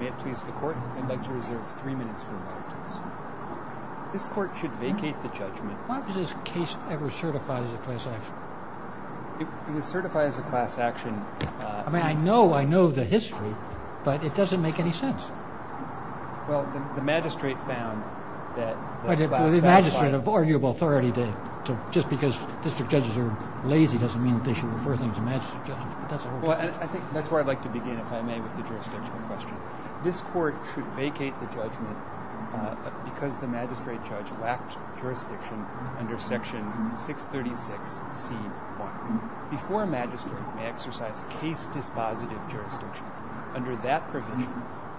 May it please the Court, I'd like to reserve three minutes for the witness. This Court should vacate the judgment. Why was this case ever certified as a class action? It was certified as a class action... I mean, I know, I know the history, but it doesn't make any sense. Well, the magistrate found that... The magistrate of arguable authority did. Just because district judges are lazy doesn't mean they should refer things to magistrate judges. Well, I think that's where I'd like to begin, if I may, with the jurisdictional question. This Court should vacate the judgment because the magistrate judge lacked jurisdiction under section 636c.1. Before a magistrate may exercise case dispositive jurisdiction, under that provision,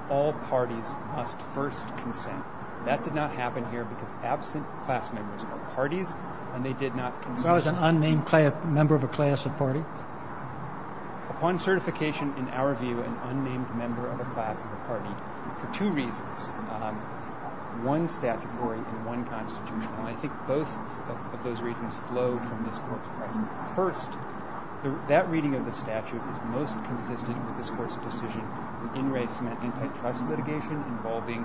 all parties must first consent. That did not happen here because absent class members are parties, and they did not consent. Why was an unnamed member of a class a party? Upon certification, in our view, an unnamed member of a class is a party for two reasons, one statutory and one constitutional. I think both of those reasons flow from this Court's precedence. First, that reading of the statute is most consistent with this Court's decision in race and antitrust litigation involving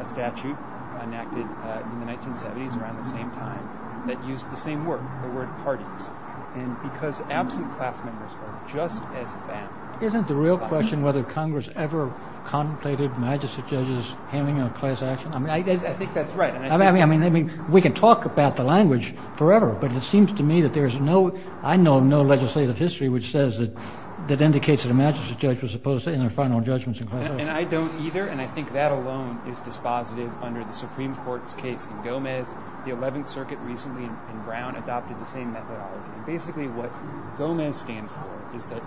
a statute enacted in the 1970s, and around the same time, that used the same word, the word parties. And because absent class members are just as banned... Isn't the real question whether Congress ever contemplated magistrate judges handling a class action? I think that's right. I mean, we can talk about the language forever, but it seems to me that there's no... I know of no legislative history which says that... that indicates that a magistrate judge was opposed in their final judgments in class action. And I don't either, and I think that alone is dispositive under the Supreme Court's case in Gomez. The 11th Circuit recently in Brown adopted the same methodology. Basically, what Gomez stands for is that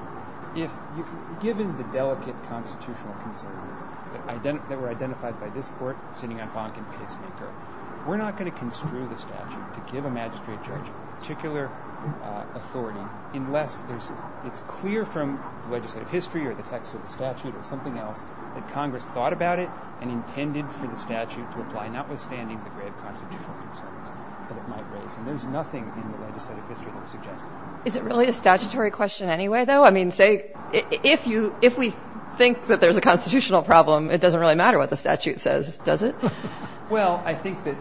if, given the delicate constitutional concerns that were identified by this Court sitting on Fonk and Pacemaker, we're not going to construe the statute to give a magistrate judge particular authority unless it's clear from legislative history or the text of the statute or something else that Congress thought about it and intended for the statute to apply, notwithstanding the great constitutional concerns that it might raise. And there's nothing in the legislative history that would suggest that. Is it really a statutory question anyway, though? I mean, say, if we think that there's a constitutional problem, it doesn't really matter what the statute says, does it? Well, I think that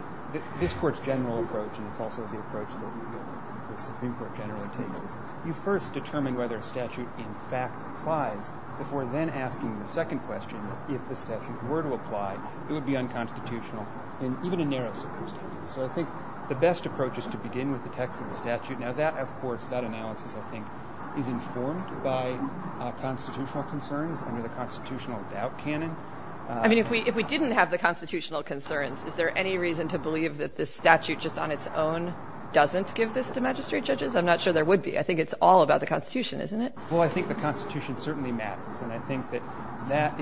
this Court's general approach, and it's also the approach that the Supreme Court generally takes, is you first determine whether a statute in fact applies before then asking the second question, if the statute were to apply, it would be unconstitutional in even a narrow circumstance. So I think the best approach is to begin with the text of the statute. Now, that, of course, that analysis, I think, is informed by constitutional concerns under the constitutional doubt canon. I mean, if we didn't have the constitutional concerns, is there any reason to believe that this statute just on its own doesn't give this to magistrate judges? I'm not sure there would be. I think it's all about the Constitution, isn't it? Well, I think the Constitution certainly matters. And I think that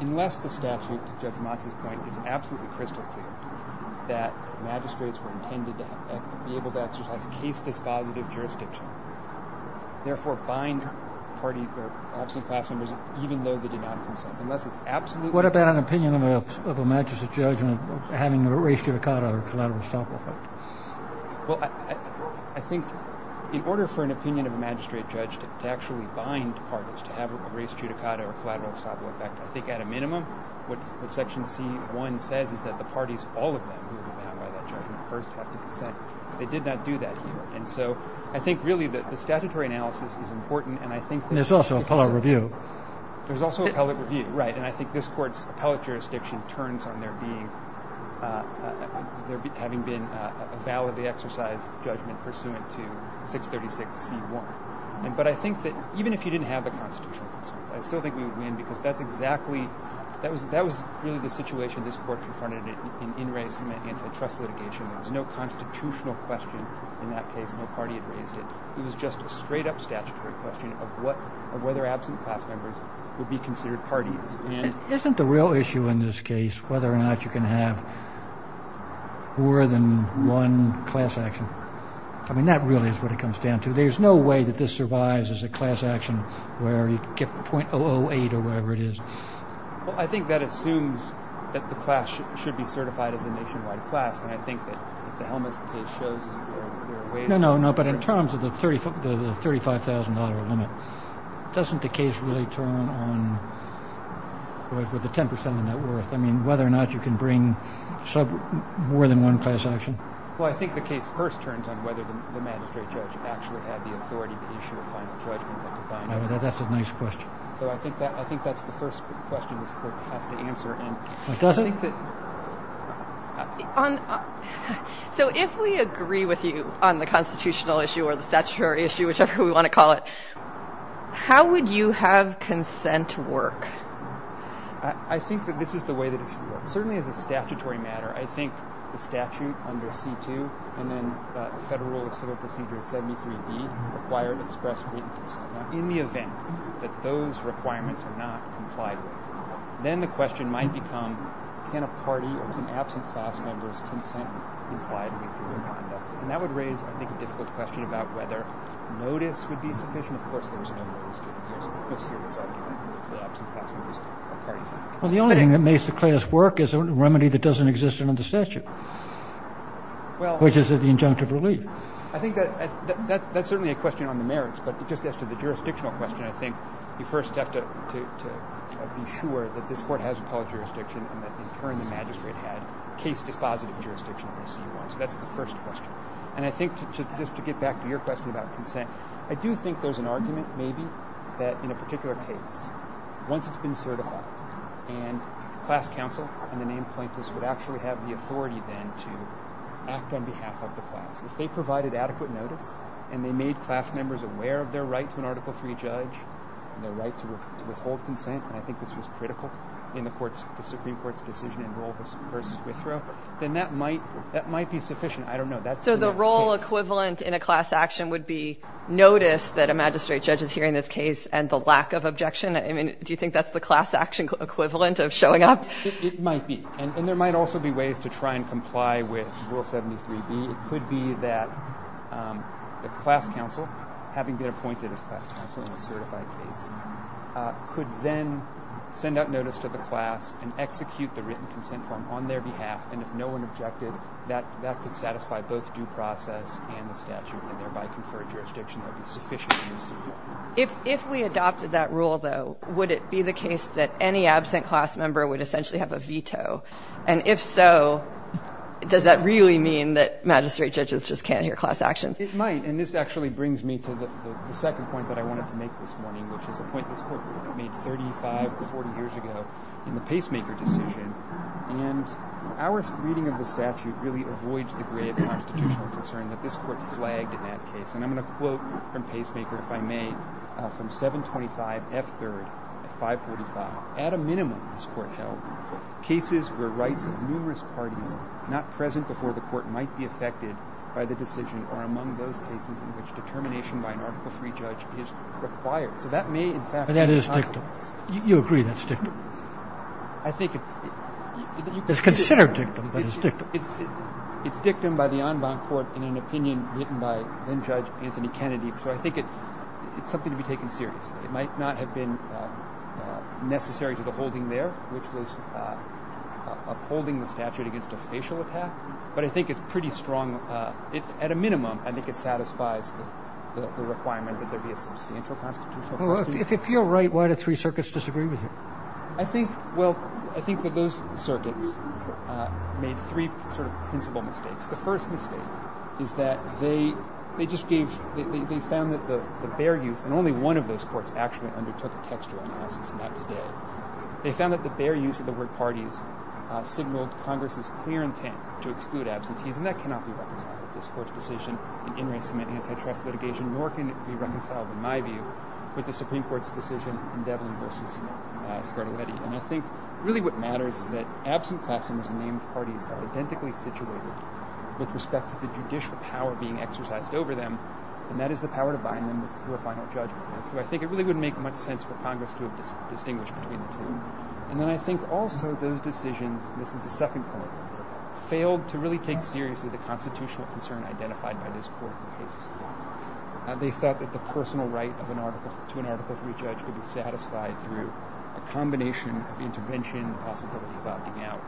unless the statute, to Judge Motz's point, is absolutely crystal clear, that magistrates were intended to be able to exercise case-dispositive jurisdiction, therefore bind party or absent class members even though they did not consent. Unless it's absolutely clear. What about an opinion of a magistrate judge having a res judicata or collateral self-defect? Well, I think in order for an opinion of a magistrate judge to actually bind parties, to have a res judicata or collateral self-defect, I think at a minimum what Section C.1 says is that the parties, all of them, who were bound by that judgment first have to consent. They did not do that here. And so I think, really, that the statutory analysis is important, and I think that it makes sense. There's also appellate review. There's also appellate review, right. And I think this Court's appellate jurisdiction turns on there being, having been a validly exercised judgment pursuant to 636 C.1. But I think that even if you didn't have the constitutional concerns, I still think we would win because that's exactly, that was really the situation this Court confronted in race and antitrust litigation. There was no constitutional question in that case. No party had raised it. It was just a straight-up statutory question of whether absent class members would be considered parties. Isn't the real issue in this case whether or not you can have more than one class action? I mean, that really is what it comes down to. There's no way that this survives as a class action where you get .008 or whatever it is. Well, I think that assumes that the class should be certified as a nationwide class, and I think that if the Helmuth case shows there are ways to do that. No, no, no. But in terms of the $35,000 limit, doesn't the case really turn on, with the 10% of that worth, I mean, whether or not you can bring more than one class action? Well, I think the case first turns on whether the magistrate judge actually had the authority to issue a final judgment. That's a nice question. So I think that's the first question this Court has to answer. It doesn't? So if we agree with you on the constitutional issue or the statutory issue, whichever we want to call it, how would you have consent work? I think that this is the way that it should work. Certainly as a statutory matter, I think the statute under C-2 and then the Federal Rule of Civil Procedure 73-D require that express written consent. In the event that those requirements are not complied with, then the question might become can a party or can absent class members consent to implied legal conduct? And that would raise, I think, a difficult question about whether notice would be sufficient. Of course, there is no notice given here, so no serious argument for absent class members or parties. Well, the only thing that makes the class work is a remedy that doesn't exist under the statute, which is the injunctive relief. I think that's certainly a question on the merits, but just as to the jurisdictional question, I think you first have to be sure that this Court has appellate jurisdiction and that in turn the magistrate had case-dispositive jurisdiction under C-1. So that's the first question. And I think just to get back to your question about consent, I do think there's an argument maybe that in a particular case, once it's been certified, and class counsel and the named plaintiffs would actually have the authority then to act on behalf of the class. If they provided adequate notice and they made class members aware of their right to an Article III judge and their right to withhold consent, and I think this was critical in the Supreme Court's decision in Rule v. Withrow, then that might be sufficient. I don't know. So the role equivalent in a class action would be notice that a magistrate judge is hearing this case and the lack of objection? I mean, do you think that's the class action equivalent of showing up? It might be. And there might also be ways to try and comply with Rule 73b. It could be that the class counsel, having been appointed as class counsel in a certified case, could then send out notice to the class and execute the written consent form on their behalf, and if no one objected, that could satisfy both due process and the statute and thereby confer a jurisdiction that would be sufficient in the Supreme Court. If we adopted that rule, though, would it be the case that any absent class member would essentially have a veto? And if so, does that really mean that magistrate judges just can't hear class actions? It might. And this actually brings me to the second point that I wanted to make this morning, which is a point this Court made 35 or 40 years ago in the Pacemaker decision. And our reading of the statute really avoids the grave constitutional concern that this Court flagged in that case. And I'm going to quote from Pacemaker, if I may, from 725 F. 3rd, 545. It states, At a minimum, this Court held, cases where rights of numerous parties not present before the Court might be affected by the decision are among those cases in which determination by an Article III judge is required. So that may, in fact, be a consequence. But that is dictum. You agree that's dictum? I think it's you can say it's dictum. It's considered dictum but it's dictum. It's dictum by the en banc Court in an opinion written by then Judge Anthony Kennedy. So I think it's something to be taken seriously. It might not have been necessary to the holding there, which was upholding the statute against a facial attack. But I think it's pretty strong. At a minimum, I think it satisfies the requirement that there be a substantial constitutional... Well, if you're right, why do three circuits disagree with you? I think, well, I think that those circuits made three sort of principal mistakes. The first mistake is that they just gave, they found that the bare use, and only one of those courts actually undertook a textual analysis of that today. They found that the bare use of the word parties signaled Congress's clear intent to exclude absentees, and that cannot be reconciled with this Court's decision in in re-submitting antitrust litigation, nor can it be reconciled, in my view, with the Supreme Court's decision in Devlin v. Scarlatti. And I think really what matters is that absent class members and named parties are identically situated with respect to the judicial power being exercised over them, and that is the power to bind them to a final judgment. And so I think it really wouldn't make much sense for Congress to have distinguished between the two. And then I think also those decisions, and this is the second point, failed to really take seriously the constitutional concern identified by this Court for cases. They thought that the personal right to an Article III judge could be satisfied through a combination of intervention and the possibility of opting out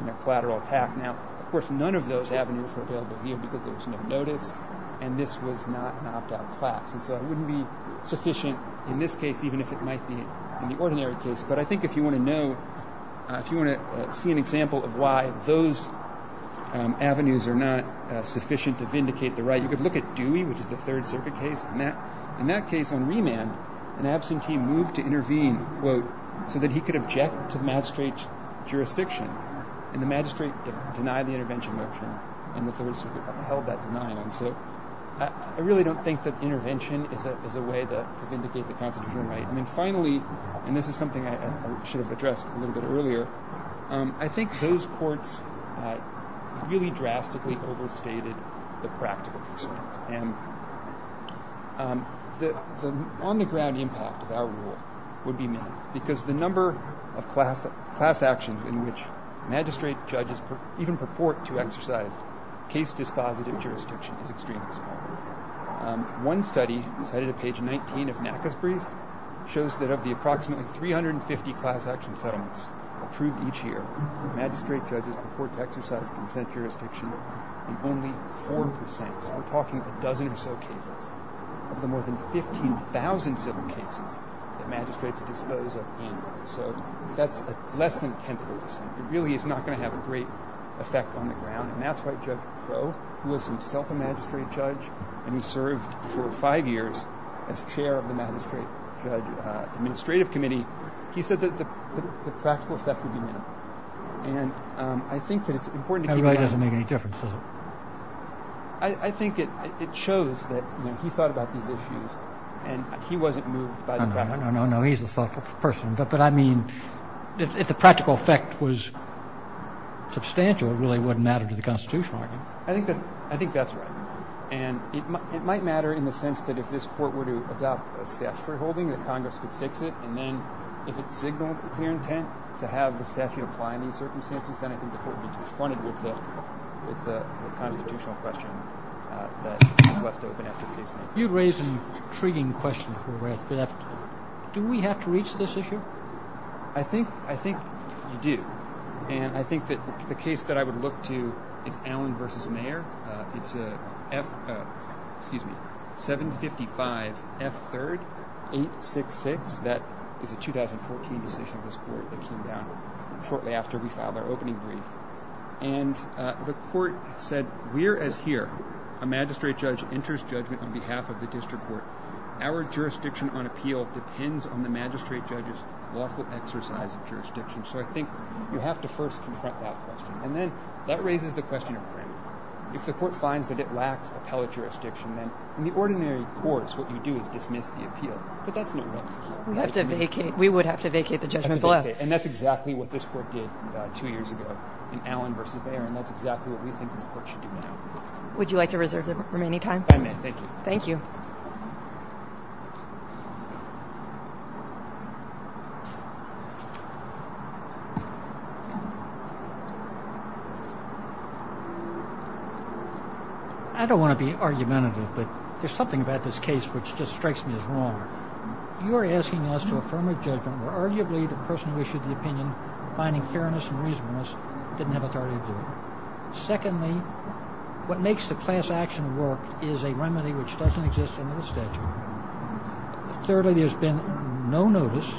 in a collateral attack. Now, of course, none of those avenues were available here because there was no notice, and this was not an opt-out class. And so it wouldn't be sufficient in this case, even if it might be in the ordinary case. But I think if you want to know, if you want to see an example of why those avenues are not sufficient to vindicate the right, you could look at Dewey, which is the Third Circuit case. In that case, on remand, an absentee moved to intervene, quote, so that he could object to the magistrate's jurisdiction. And the magistrate denied the intervention motion, and the Third Circuit upheld that denial. And so I really don't think that intervention is a way to vindicate the constitutional right. And then finally, and this is something I should have addressed a little bit earlier, I think those courts really drastically overstated the practical concerns. And the on-the-ground impact of our rule would be minimal, because the number of class actions in which magistrate judges even purport to exercise case-dispositive jurisdiction is extremely small. One study, cited at page 19 of NACA's brief, shows that of the approximately 350 class-action settlements approved each year, magistrate judges purport to exercise consent jurisdiction in only 4 percent. So we're talking a dozen or so cases. Of the more than 15,000 civil cases that magistrates dispose of annually. So that's less than 10 percent. It really is not going to have a great effect on the ground. And that's why Judge Crow, who is himself a magistrate judge, and who served for five years as chair of the Magistrate Judge Administrative Committee, he said that the practical effect would be minimal. And I think that it's important to keep in mind— That right doesn't make any difference, does it? I think it shows that he thought about these issues, and he wasn't moved by the practical effect. No, no, no. He's a thoughtful person. But I mean, if the practical effect was substantial, it really wouldn't matter to the constitutional argument. I think that's right. And it might matter in the sense that if this Court were to adopt a statutory holding, that Congress could fix it. And then if it's signaled with clear intent to have the statute apply in these circumstances, then I think the Court would be confronted with the constitutional question that is left open after the case is made. You raise an intriguing question for where it's left. Do we have to reach this issue? I think you do. And I think that the case that I would look to is Allen v. Mayer. It's a F—excuse me—755 F. 3rd 866. That is a 2014 decision of this Court that came down shortly after we filed our opening brief. And the Court said, Where as here a magistrate judge enters judgment on behalf of the district court, our jurisdiction on appeal depends on the magistrate judge's lawful exercise of jurisdiction. So I think you have to first confront that question. And then that raises the question of when. If the Court finds that it lacks appellate jurisdiction, then in the ordinary course what you do is dismiss the appeal. But that's not what you do. We would have to vacate the judgment below. And that's exactly what this Court did two years ago in Allen v. Mayer. And that's exactly what we think this Court should do now. Would you like to reserve the remaining time? I may. Thank you. Thank you. I don't want to be argumentative, but there's something about this case which just strikes me as wrong. You are asking us to affirm a judgment where arguably the person who issued the opinion, finding fairness and reasonableness, didn't have authority to do it. Secondly, what makes the class action work is a remedy which doesn't exist under the statute. Thirdly, there's been no notice.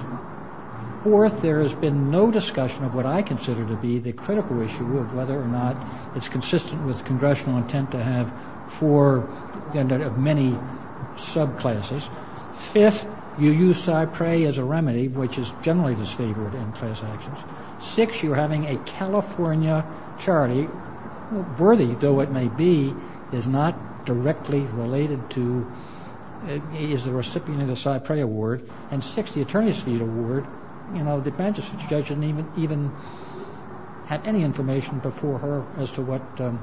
Fourth, there has been no discussion of what I consider to be the critical issue of whether or not it's consistent with congressional intent to have four of many subclasses. Fifth, you use Cypre as a remedy, which is generally disfavored in class actions. Sixth, you're having a California Charity, worthy though it may be, is not directly related to, is a recipient of the Cypre Award. And sixth, the Attorney's Fee Award, you know, the Manchester judge didn't even have any information before her as to what the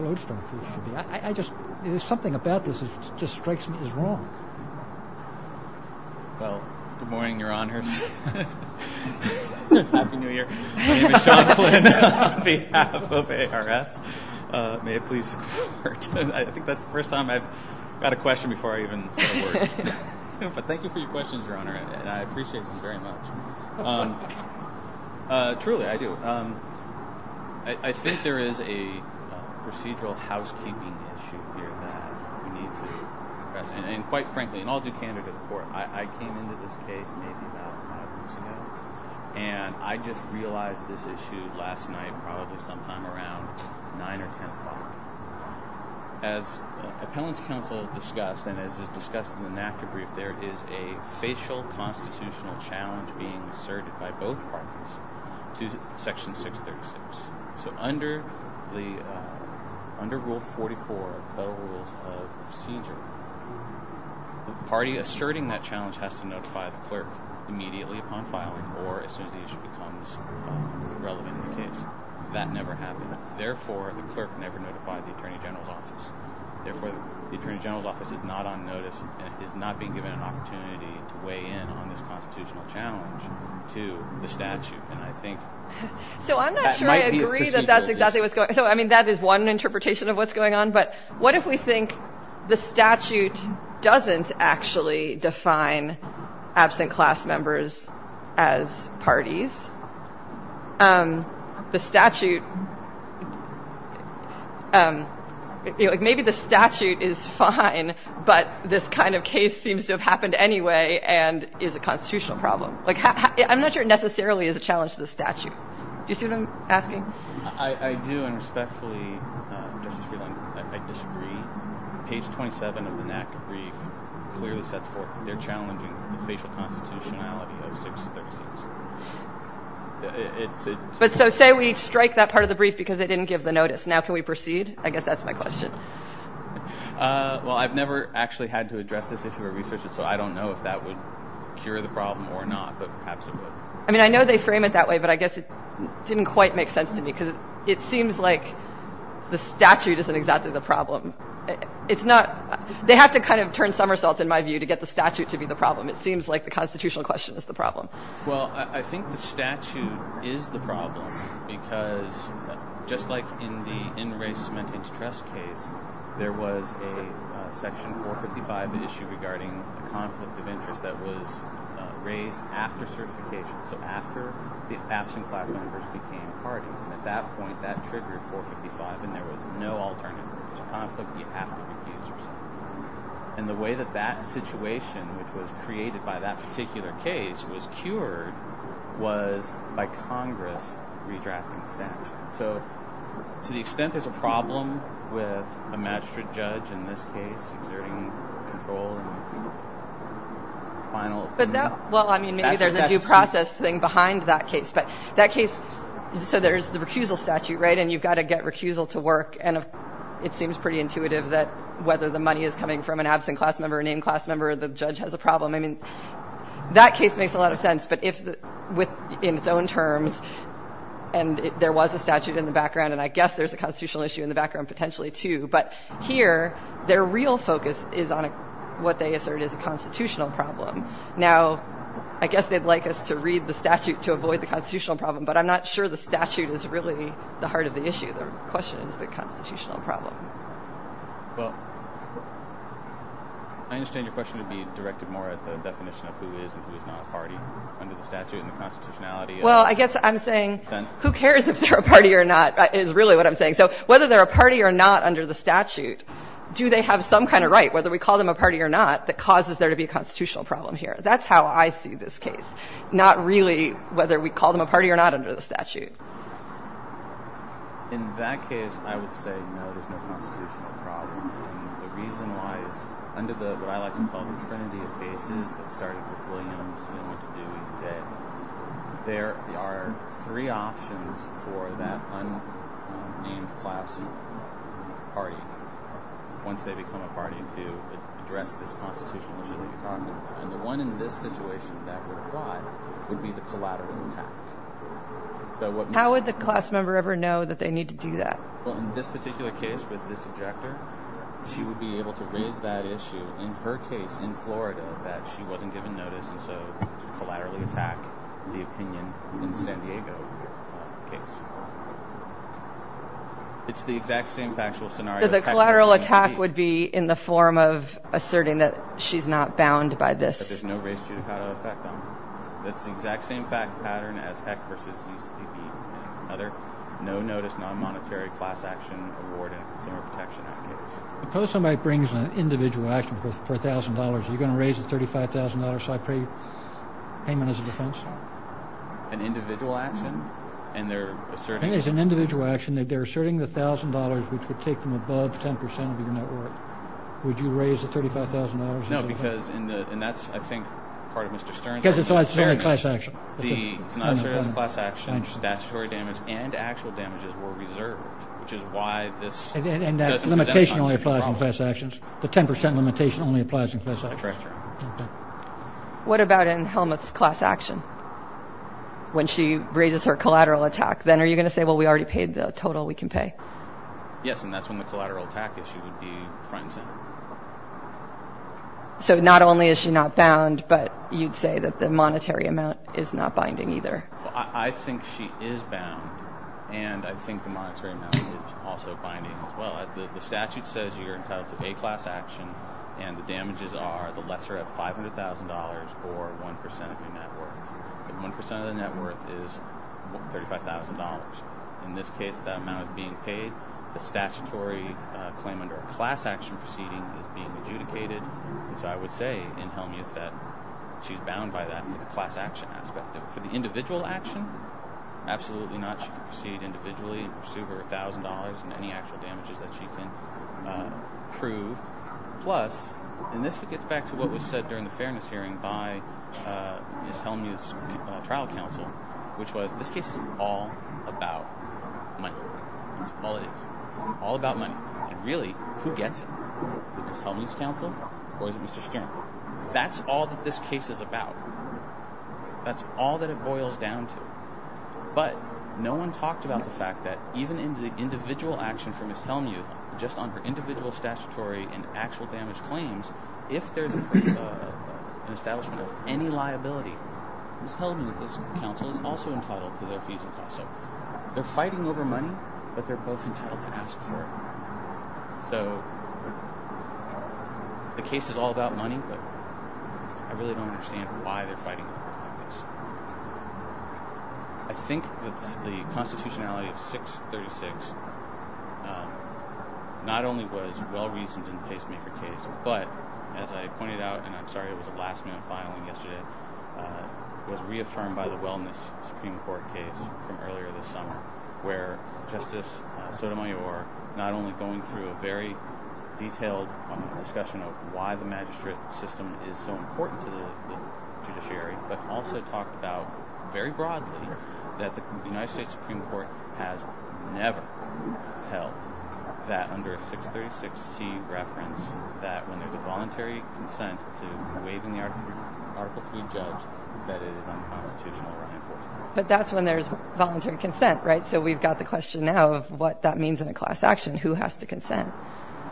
lodestar fee should be. I just, there's something about this that just strikes me as wrong. Well, good morning, Your Honors. Happy New Year. My name is Sean Flynn on behalf of ARS. May it please the Court. I think that's the first time I've got a question before I even said a word. But thank you for your questions, Your Honor, and I appreciate them very much. Truly, I do. I think there is a procedural housekeeping issue here that we need to address. And quite frankly, and I'll do candor to the Court, I came into this case maybe about five weeks ago, and I just realized this issue last night, probably sometime around 9 or 10 o'clock. As Appellant's Counsel discussed, and as is discussed in the NACA brief, there is a facial constitutional challenge being asserted by both parties to Section 636. So under Rule 44 of the Federal Rules of Procedure, the party asserting that challenge has to notify the clerk immediately upon filing or as soon as the issue becomes relevant in the case. That never happened. Therefore, the clerk never notified the Attorney General's Office. Therefore, the Attorney General's Office is not on notice and is not being given an opportunity to weigh in on this constitutional challenge to the statute. So I'm not sure I agree that that's exactly what's going on. I mean, that is one interpretation of what's going on, but what if we think the statute doesn't actually define absent class members as parties? Maybe the statute is fine, but this kind of case seems to have happened anyway and is a constitutional problem. I'm not sure it necessarily is a challenge to the statute. Do you see what I'm asking? I do, and respectfully, Justice Freeland, I disagree. Page 27 of the NACA brief clearly sets forth that they're challenging the facial constitutionality of 636. But so say we strike that part of the brief because they didn't give the notice. Now can we proceed? I guess that's my question. Well, I've never actually had to address this issue at research, so I don't know if that would cure the problem or not, but perhaps it would. I mean, I know they frame it that way, but I guess it didn't quite make sense to me because it seems like the statute isn't exactly the problem. It's not they have to kind of turn somersaults, in my view, to get the statute to be the problem. It seems like the constitutional question is the problem. Well, I think the statute is the problem because just like in the in-race cementing to trust case, there was a section 455 issue regarding a conflict of interest that was raised after certification, so after the absent class members became parties. And at that point, that triggered 455, and there was no alternative. If there's a conflict, you have to recuse yourself. And the way that that situation, which was created by that particular case, was cured was by Congress redrafting the statute. So to the extent there's a problem with a magistrate judge in this case exerting control and final opinion. Well, I mean, maybe there's a due process thing behind that case. So there's the recusal statute, right, and you've got to get recusal to work, and it seems pretty intuitive that whether the money is coming from an absent class member, a named class member, or the judge has a problem. I mean, that case makes a lot of sense, but in its own terms, and there was a statute in the background, and I guess there's a constitutional issue in the background potentially too, but here their real focus is on what they assert is a constitutional problem. Now, I guess they'd like us to read the statute to avoid the constitutional problem, but I'm not sure the statute is really the heart of the issue. The question is the constitutional problem. Well, I understand your question would be directed more at the definition of who is and who is not a party under the statute and the constitutionality. Well, I guess I'm saying who cares if they're a party or not is really what I'm saying. So whether they're a party or not under the statute, do they have some kind of right, whether we call them a party or not, that causes there to be a constitutional problem here? That's how I see this case, not really whether we call them a party or not under the statute. In that case, I would say no, there's no constitutional problem, and the reason why is under what I like to call the trinity of cases that started with Williams and then went to Dewey and Debt, there are three options for that unnamed class party once they become a party to address this constitutional issue that you're talking about, and the one in this situation that would apply would be the collateral attack. How would the class member ever know that they need to do that? Well, in this particular case with this objector, she would be able to raise that issue in her case in Florida that she wasn't given notice and so to collaterally attack the opinion in the San Diego case. It's the exact same factual scenario. The collateral attack would be in the form of asserting that she's not bound by this. That there's no race judicata effect on her. That's the exact same pattern as Heck vs. East. No notice, non-monetary, class action, award, and consumer protection in that case. Suppose somebody brings an individual action for $1,000. Are you going to raise the $35,000 so I pay payment as a defense? An individual action? It's an individual action. They're asserting the $1,000, which would take from above 10% of your net worth. Would you raise the $35,000 as a defense? No, because that's, I think, part of Mr. Stern's argument. Because it's only class action. It's not asserted as a class action. Statutory damage and actual damages were reserved, which is why this doesn't present a constitutional problem. And that limitation only applies in class actions? The 10% limitation only applies in class actions? That's right, Your Honor. What about in Helmuth's class action when she raises her collateral attack? Then are you going to say, well, we already paid the total we can pay? Yes, and that's when the collateral attack issue would be front and center. So not only is she not bound, but you'd say that the monetary amount is not binding either? I think she is bound, and I think the monetary amount is also binding as well. The statute says you're entitled to a class action, and the damages are the lesser of $500,000 or 1% of your net worth. And 1% of the net worth is $35,000. In this case, that amount is being paid. The statutory claim under a class action proceeding is being adjudicated. And so I would say in Helmuth that she's bound by that class action aspect. For the individual action, absolutely not. She can proceed individually and pursue her $1,000 and any actual damages that she can prove. Plus, and this gets back to what was said during the fairness hearing by Ms. Helmuth's trial counsel, which was this case is all about money. That's all it is. All about money. And really, who gets it? Is it Ms. Helmuth's counsel or is it Mr. Stern? That's all that this case is about. That's all that it boils down to. But no one talked about the fact that even in the individual action for Ms. Helmuth, just on her individual statutory and actual damage claims, if there's an establishment of any liability, Ms. Helmuth's counsel is also entitled to their fees and costs. So they're fighting over money, but they're both entitled to ask for it. So the case is all about money, but I really don't understand why they're fighting over it like this. I think that the constitutionality of 636 not only was well-reasoned in the pacemaker case, but, as I pointed out, and I'm sorry it was a last-minute filing yesterday, was reaffirmed by the wellness Supreme Court case from earlier this summer, where Justice Sotomayor, not only going through a very detailed discussion of why the magistrate system is so important to the judiciary, but also talked about, very broadly, that the United States Supreme Court has never held that under a 636c reference, that when there's a voluntary consent to waive an Article III judge, that it is unconstitutional or unenforced. But that's when there's voluntary consent, right? So we've got the question now of what that means in a class action. Who has to consent?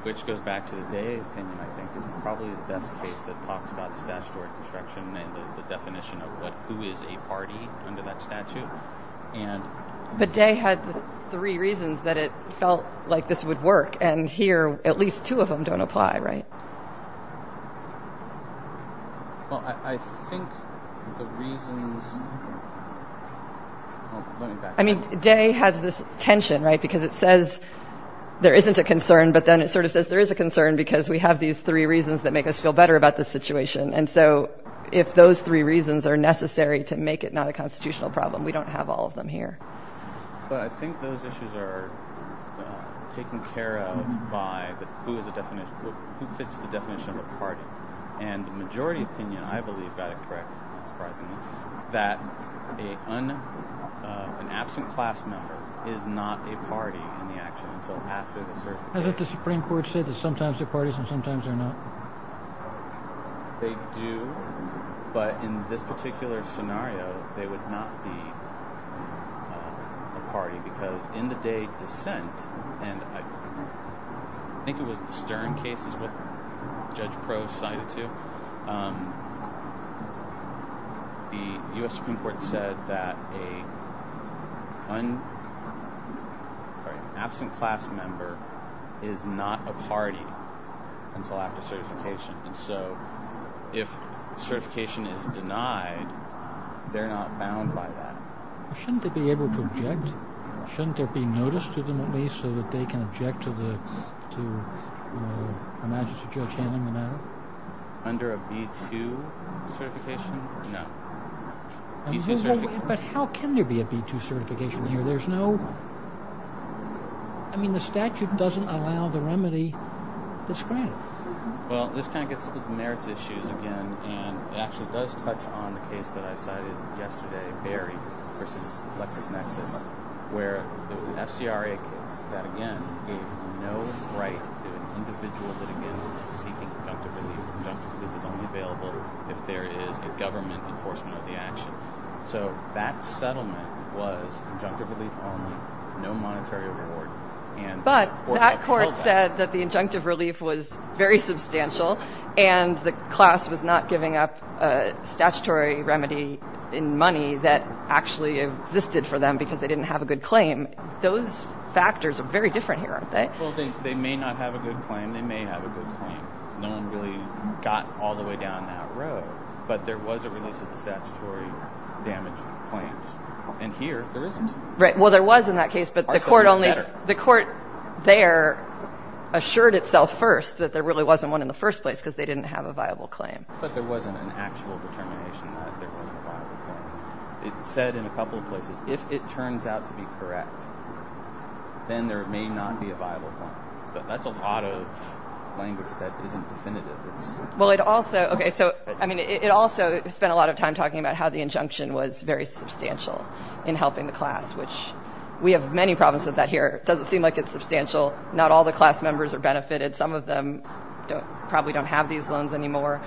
Which goes back to the Day opinion, I think, is probably the best case that talks about the statutory construction and the definition of who is a party under that statute. But Day had three reasons that it felt like this would work, and here at least two of them don't apply, right? Well, I think the reasons... I mean, Day has this tension, right? Because it says there isn't a concern, but then it sort of says there is a concern because we have these three reasons that make us feel better about this situation. And so if those three reasons are necessary to make it not a constitutional problem, we don't have all of them here. But I think those issues are taken care of by who fits the definition of a party. And the majority opinion, I believe, got it correct, not surprisingly, that an absent class member is not a party in the action until after the certification. Hasn't the Supreme Court said that sometimes they're parties and sometimes they're not? They do, but in this particular scenario, they would not be a party because in the Day dissent, and I think it was the Stern case is what Judge Prohss cited to, the U.S. Supreme Court said that an absent class member is not a party until after certification. And so if certification is denied, they're not bound by that. Shouldn't they be able to object? Shouldn't there be notice to them at least so that they can object to a magistrate judge handling the matter? Under a B-2 certification? No. But how can there be a B-2 certification here? I mean, the statute doesn't allow the remedy that's granted. Well, this kind of gets to the merits issues again, and it actually does touch on the case that I cited yesterday, Berry v. LexisNexis, where there was an FCRA case that, again, gave no right to an individual litigant seeking injunctive relief. Injunctive relief is only available if there is a government enforcement of the action. So that settlement was injunctive relief only, no monetary reward. But that court said that the injunctive relief was very substantial and the class was not giving up a statutory remedy in money that actually existed for them because they didn't have a good claim. Those factors are very different here, aren't they? Well, they may not have a good claim, they may have a good claim. No one really got all the way down that road, but there was a release of the statutory damage claims. And here, there isn't. Right, well, there was in that case, but the court only... Our system is better. The court there assured itself first that there really wasn't one in the first place because they didn't have a viable claim. But there wasn't an actual determination that there wasn't a viable claim. It said in a couple of places, if it turns out to be correct, then there may not be a viable claim. That's a lot of language that isn't definitive. Well, it also spent a lot of time talking about how the injunction was very substantial in helping the class, which we have many problems with that here. It doesn't seem like it's substantial. Not all the class members are benefited. Some of them probably don't have these loans anymore.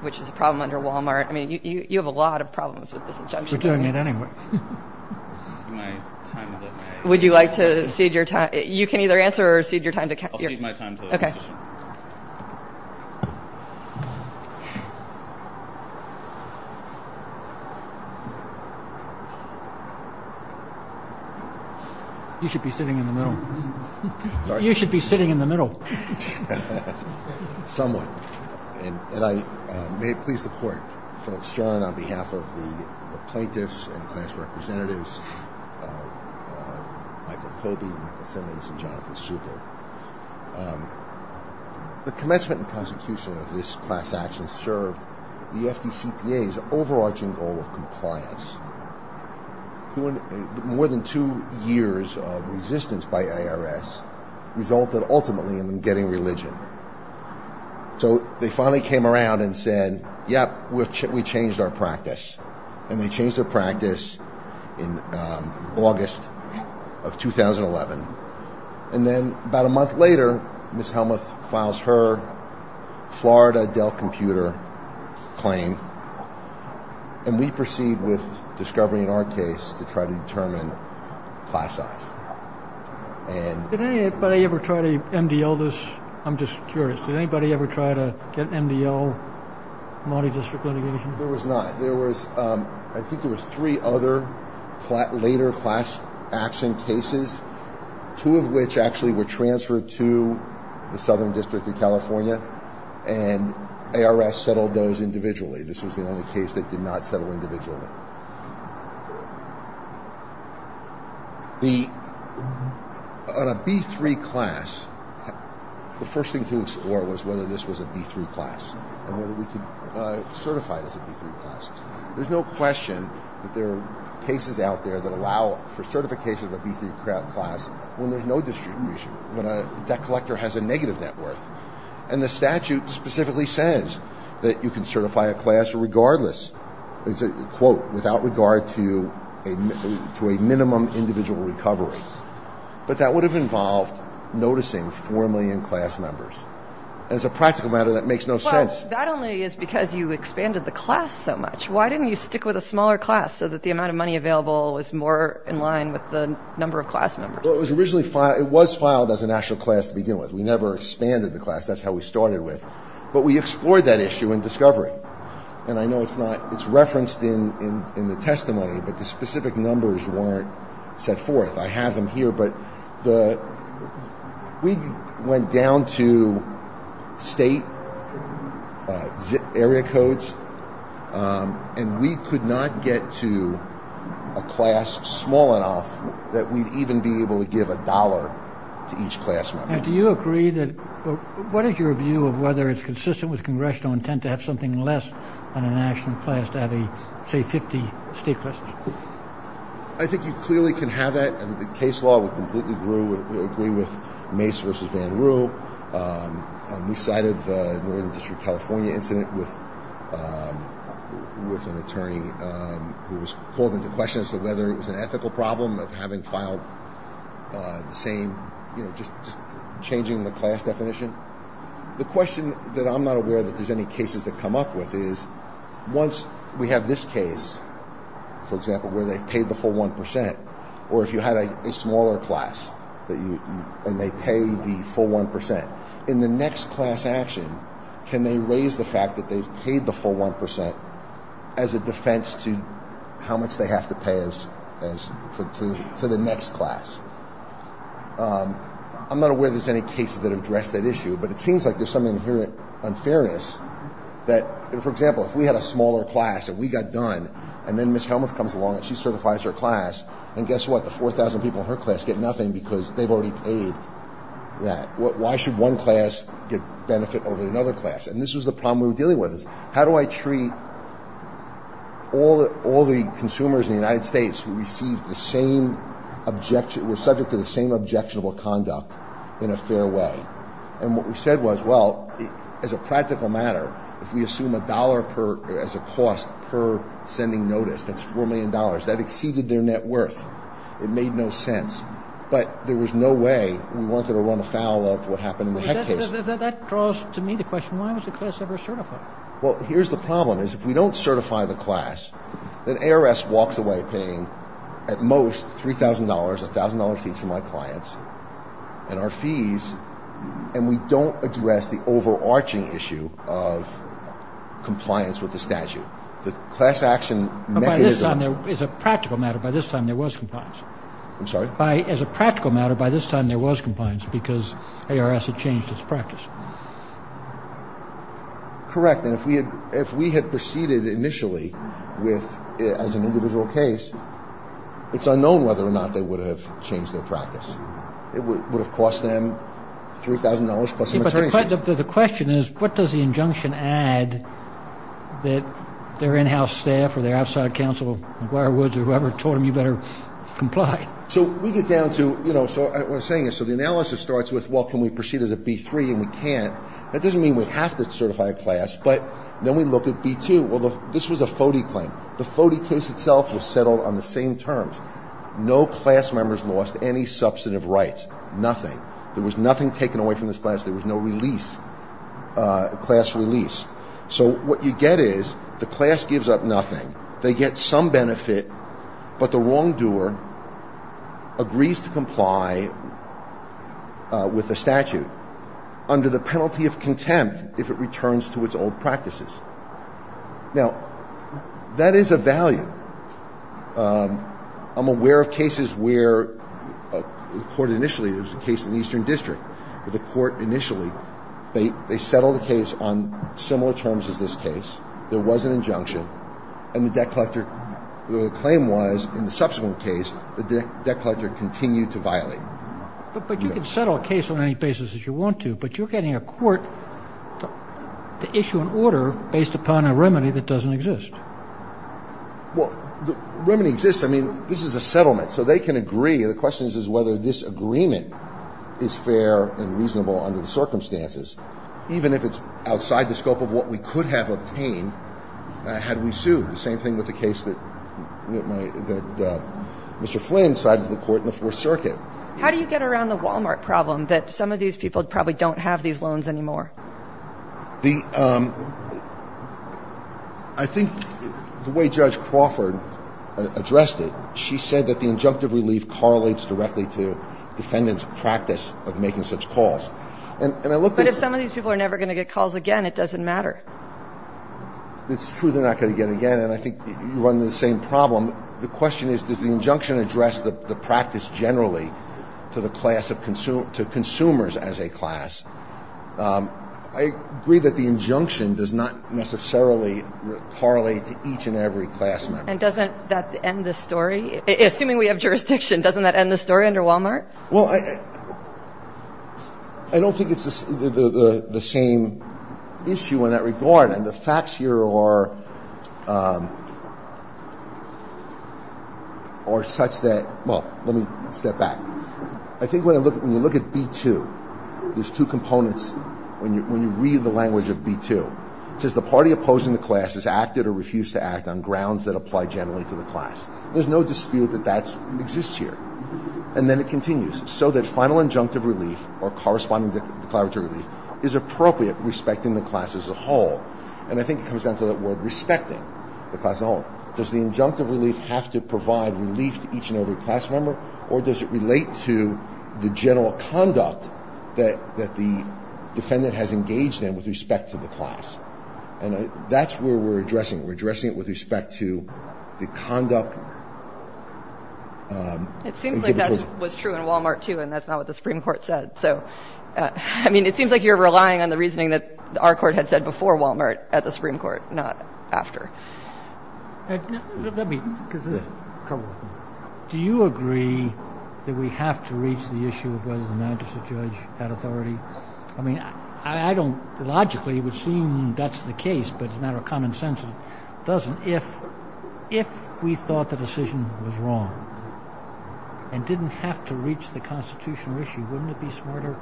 Which is a problem under Walmart. I mean, you have a lot of problems with this injunction. We're doing it anyway. My time is up now. Would you like to cede your time? You can either answer or cede your time. I'll cede my time to the decision. Okay. Sorry? You should be sitting in the middle. Somewhat. And may it please the Court, Philip Stern on behalf of the plaintiffs and class representatives, Michael Coby, Michael Simmons, and Jonathan Super. The commencement and prosecution of this class action served the FDCPA's overarching goal of compliance. More than two years of resistance by IRS resulted ultimately in them getting religion. So they finally came around and said, yep, we changed our practice. And they changed their practice in August of 2011. And then about a month later, Ms. Helmuth files her Florida Dell Computer claim. And we proceed with discovery in our case to try to determine class size. Did anybody ever try to MDL this? I'm just curious. Did anybody ever try to get MDL, multi-district litigation? There was not. I think there were three other later class action cases, two of which actually were transferred to the Southern District of California, and IRS settled those individually. This was the only case that did not settle individually. On a B3 class, the first thing to explore was whether this was a B3 class and whether we could certify it as a B3 class. There's no question that there are cases out there that allow for certification of a B3 class when there's no distribution, when a debt collector has a negative net worth. And the statute specifically says that you can certify a class regardless. It's a quote, without regard to a minimum individual recovery. But that would have involved noticing 4 million class members. And it's a practical matter that makes no sense. Well, that only is because you expanded the class so much. Why didn't you stick with a smaller class so that the amount of money available was more in line with the number of class members? Well, it was filed as a national class to begin with. We never expanded the class. That's how we started with. But we explored that issue in discovery. And I know it's referenced in the testimony, but the specific numbers weren't set forth. I have them here, but we went down to state area codes, and we could not get to a class small enough that we'd even be able to give a dollar to each class member. And do you agree that, what is your view of whether it's consistent with congressional intent to have something less than a national class to have, say, 50 state classes? I think you clearly can have that. The case law would completely agree with Mace v. Van Roo. We cited the Northern District of California incident with an attorney who was called into question as to whether it was an ethical problem of having filed the same, you know, just changing the class definition. The question that I'm not aware that there's any cases that come up with is, once we have this case, for example, where they've paid the full 1 percent, or if you had a smaller class and they pay the full 1 percent, in the next class action, can they raise the fact that they've paid the full 1 percent as a defense to how much they have to pay to the next class? I'm not aware there's any cases that address that issue, but it seems like there's some inherent unfairness that, for example, if we had a smaller class and we got done, and then Ms. Helmuth comes along and she certifies her class, and guess what? The 4,000 people in her class get nothing because they've already paid that. Why should one class get benefit over another class? And this was the problem we were dealing with is, how do I treat all the consumers in the United States who were subject to the same objectionable conduct in a fair way? And what we said was, well, as a practical matter, if we assume a dollar as a cost per sending notice, that's $4 million, that exceeded their net worth. It made no sense. But there was no way we weren't going to run afoul of what happened in the Heck case. That draws to me the question, why was the class ever certified? Well, here's the problem, is if we don't certify the class, then ARS walks away paying, at most, $3,000, $1,000 a seat to my clients and our fees, and we don't address the overarching issue of compliance with the statute. The class action mechanism. But by this time, there was a practical matter, by this time there was compliance. I'm sorry? As a practical matter, by this time there was compliance because ARS had changed its practice. Correct. And if we had proceeded initially as an individual case, it's unknown whether or not they would have changed their practice. It would have cost them $3,000 plus some attorney's fees. The question is, what does the injunction add that their in-house staff or their outside counsel, McGuire Woods or whoever, told them you better comply? So we get down to, what I'm saying is, so the analysis starts with, well, can we proceed as a B3, and we can't. That doesn't mean we have to certify a class, but then we look at B2. Well, this was a FODE claim. The FODE case itself was settled on the same terms. No class members lost any substantive rights. Nothing. There was nothing taken away from this class. There was no release, class release. So what you get is the class gives up nothing. They get some benefit, but the wrongdoer agrees to comply with the statute. Under the penalty of contempt, if it returns to its old practices. Now, that is a value. I'm aware of cases where the court initially, there was a case in the Eastern District, where the court initially, they settled a case on similar terms as this case. There was an injunction, and the debt collector, the claim was, But you can settle a case on any basis that you want to, but you're getting a court to issue an order based upon a remedy that doesn't exist. Well, the remedy exists. I mean, this is a settlement, so they can agree. The question is whether this agreement is fair and reasonable under the circumstances, even if it's outside the scope of what we could have obtained had we sued. The same thing with the case that Mr. Flynn cited to the court in the Fourth Circuit. How do you get around the Walmart problem, that some of these people probably don't have these loans anymore? I think the way Judge Crawford addressed it, she said that the injunctive relief correlates directly to defendants' practice of making such calls. But if some of these people are never going to get calls again, it doesn't matter. It's true they're not going to get again, and I think you run into the same problem. The question is, does the injunction address the practice generally to consumers as a class? I agree that the injunction does not necessarily correlate to each and every class member. And doesn't that end the story? Assuming we have jurisdiction, doesn't that end the story under Walmart? Well, I don't think it's the same issue in that regard. And the facts here are such that, well, let me step back. I think when you look at B2, there's two components when you read the language of B2. It says the party opposing the class has acted or refused to act on grounds that apply generally to the class. There's no dispute that that exists here. And then it continues. So that final injunctive relief or corresponding declaratory relief is appropriate respecting the class as a whole. And I think it comes down to that word respecting the class as a whole. Does the injunctive relief have to provide relief to each and every class member, or does it relate to the general conduct that the defendant has engaged in with respect to the class? And that's where we're addressing it. With respect to the conduct. It seems like that was true in Walmart, too, and that's not what the Supreme Court said. So, I mean, it seems like you're relying on the reasoning that our court had said before Walmart at the Supreme Court, not after. Do you agree that we have to reach the issue of whether the magistrate judge had authority? I mean, I don't. Logically, it would seem that's the case, but it's not a common sense. It doesn't. If we thought the decision was wrong and didn't have to reach the constitutional issue, wouldn't it be smarter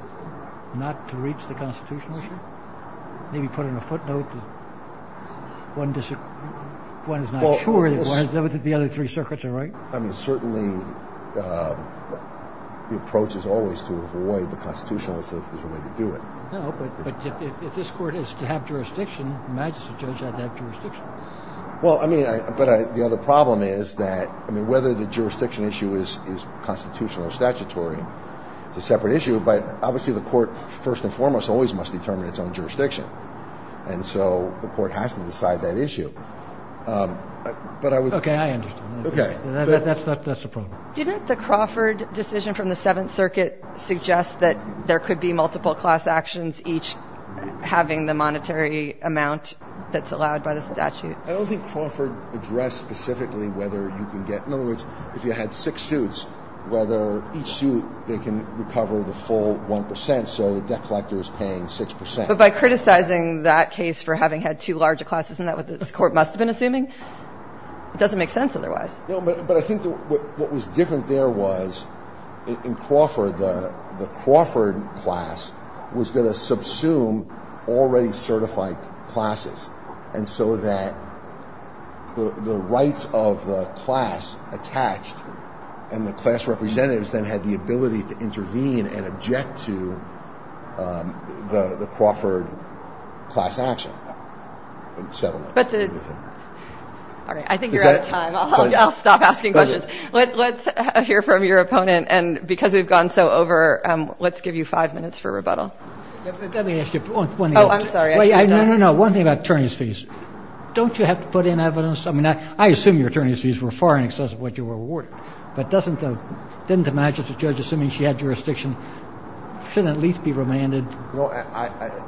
not to reach the constitutional issue? Maybe put in a footnote that one is not sure that the other three circuits are right. I mean, certainly the approach is always to avoid the constitutional issue if there's a way to do it. No, but if this court is to have jurisdiction, the magistrate judge has to have jurisdiction. Well, I mean, but the other problem is that, I mean, whether the jurisdiction issue is constitutional or statutory, it's a separate issue. But obviously the court, first and foremost, always must determine its own jurisdiction. And so the court has to decide that issue. But I would. Okay, I understand. Okay. That's the problem. Didn't the Crawford decision from the Seventh Circuit suggest that there could be multiple class actions, each having the monetary amount that's allowed by the statute? I don't think Crawford addressed specifically whether you can get, in other words, if you had six suits, whether each suit they can recover the full 1 percent, so the debt collector is paying 6 percent. But by criticizing that case for having had two larger classes, isn't that what this court must have been assuming? It doesn't make sense otherwise. No, but I think what was different there was in Crawford, the Crawford class was going to subsume already certified classes. And so that the rights of the class attached and the class representatives then had the ability to intervene and object to the Crawford class action. But I think you're out of time. I'll stop asking questions. Let's hear from your opponent. And because we've gone so over, let's give you five minutes for rebuttal. Let me ask you one thing. Oh, I'm sorry. No, no, no. One thing about attorney's fees. Don't you have to put in evidence? I mean, I assume your attorney's fees were far in excess of what you were awarded. But doesn't the magistrate judge, assuming she had jurisdiction, shouldn't at least be remanded? You know,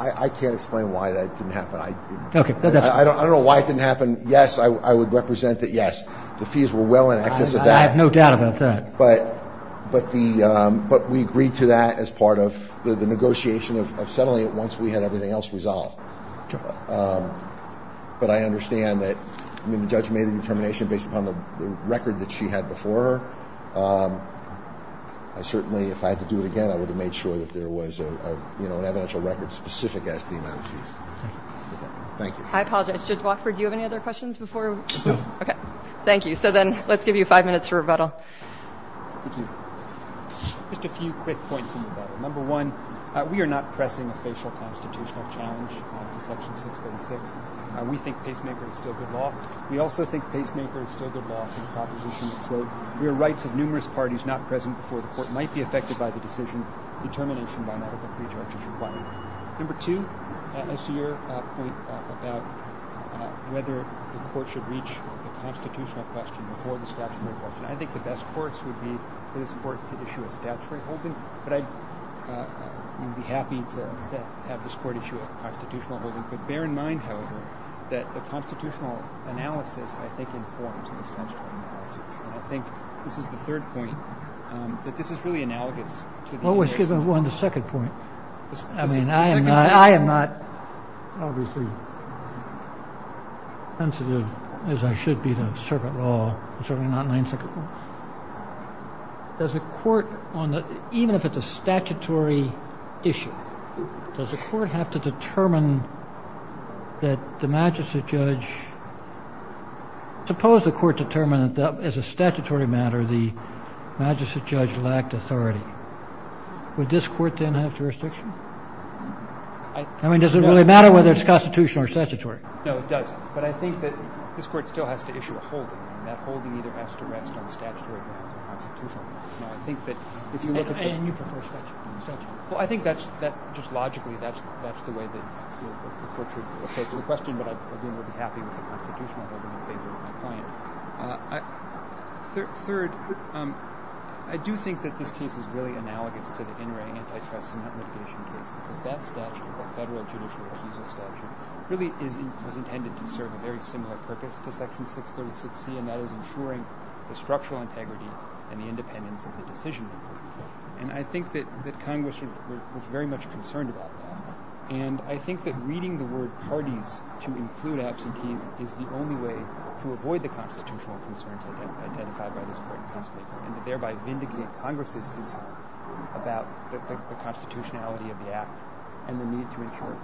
I can't explain why that didn't happen. I don't know why it didn't happen. Yes, I would represent that, yes, the fees were well in excess of that. I have no doubt about that. But we agreed to that as part of the negotiation of settling it once we had everything else resolved. But I understand that the judge made a determination based upon the record that she had before her. I certainly, if I had to do it again, I would have made sure that there was, you know, an evidential record specific as to the amount of fees. Thank you. I apologize. Judge Wofford, do you have any other questions before? No. Okay. Thank you. So then let's give you five minutes for rebuttal. Thank you. Just a few quick points in rebuttal. Number one, we are not pressing a facial constitutional challenge to Section 636. We think pacemaker is still good law. We also think pacemaker is still good law for the proposition that, quote, where rights of numerous parties not present before the court might be affected by the decision, determination by not all three judges required. Number two, as to your point about whether the court should reach the constitutional question before the statutory question, I think the best course would be for this court to issue a statutory holding. But I would be happy to have this court issue a constitutional holding. But bear in mind, however, that the constitutional analysis, I think, informs the statutory analysis. And I think this is the third point, that this is really analogous. Oh, excuse me. On the second point, I mean, I am not obviously as sensitive as I should be to circuit law, certainly not in my own second point. Does the court, even if it's a statutory issue, does the court have to determine that the magistrate judge, suppose the court determined that, as a statutory matter, the magistrate judge lacked authority. Would this court then have jurisdiction? I mean, does it really matter whether it's constitutional or statutory? No, it does. But I think that this court still has to issue a holding, and that holding either has to rest on statutory grounds or constitutional grounds. And you prefer statutory. Well, I think that just logically that's the way that the court should approach the question. But again, I would be happy with a constitutional holding in favor of my client. Third, I do think that this case is really analogous to the in-ring antitrust and non-mitigation case because that statute, the federal judicial refusal statute, really was intended to serve a very similar purpose to Section 636C, and that is ensuring the structural integrity and the independence of the decision-maker. And I think that Congress was very much concerned about that. And I think that reading the word parties to include absentees is the only way to avoid the constitutional concerns identified by this court in the past and to thereby vindicate Congress's concern about the constitutionality of the Act and the need to ensure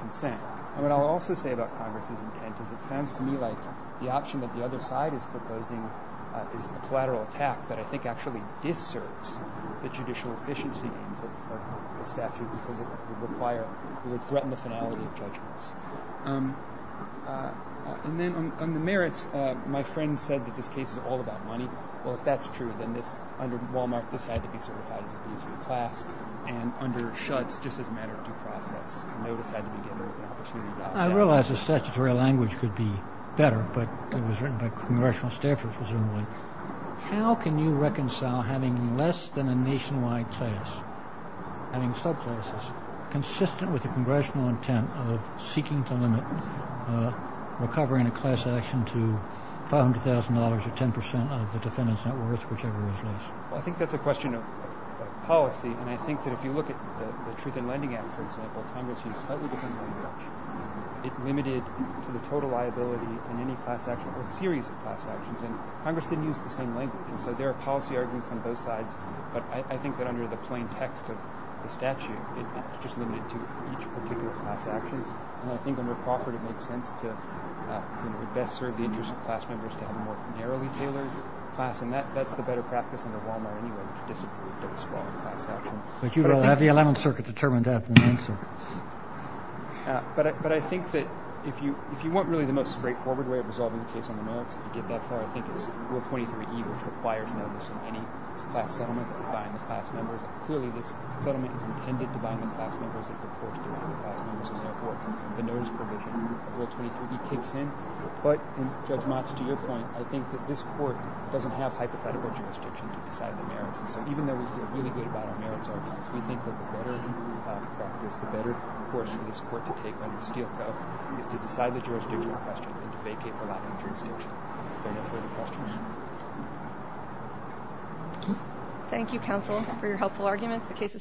consent. And what I'll also say about Congress's intent is it sounds to me like the option that the other side is proposing is a collateral attack that I think actually disserves the judicial efficiency aims of the statute because it would threaten the finality of judgments. And then on the merits, my friend said that this case is all about money. Well, if that's true, then under Wal-Mart, this had to be certified as an abuser of class, and under Schutz, just as a matter of due process, notice had to be given with the opportunity of doubt. I realize the statutory language could be better, but it was written by congressional staffers, presumably. How can you reconcile having less than a nationwide class, having subclasses, consistent with the congressional intent of seeking to limit recovering a class action to $500,000 or 10% of the defendant's net worth, whichever is less? Well, I think that's a question of policy, and I think that if you look at the Truth in Lending Act, for example, Congress used a slightly different language. It limited to the total liability in any class action or series of class actions, and Congress didn't use the same language. And so there are policy arguments on both sides, but I think that under the plain text of the statute, it's just limited to each particular class action. And I think under Crawford, it makes sense to best serve the interests of class members to have a more narrowly tailored class, and that's the better practice under Wal-Mart anyway, which disapproved of a small class action. But you don't have the Eleventh Circuit determined to have the Ninth Circuit. But I think that if you want really the most straightforward way of resolving the case on the merits, if you get that far, I think it's Rule 23E, which requires notice in any class settlement to bind the class members. Clearly, this settlement is intended to bind the class members and purports to bind the class members, and therefore the notice provision in Rule 23E kicks in. But, Judge Motch, to your point, I think that this Court doesn't have hypothetical jurisdiction to decide the merits. And so even though we feel really good about our merits arguments, we think that the better practice, the better course for this Court to take under Steelco is to decide the jurisdictional question and to vacate for lack of jurisdiction. Are there no further questions?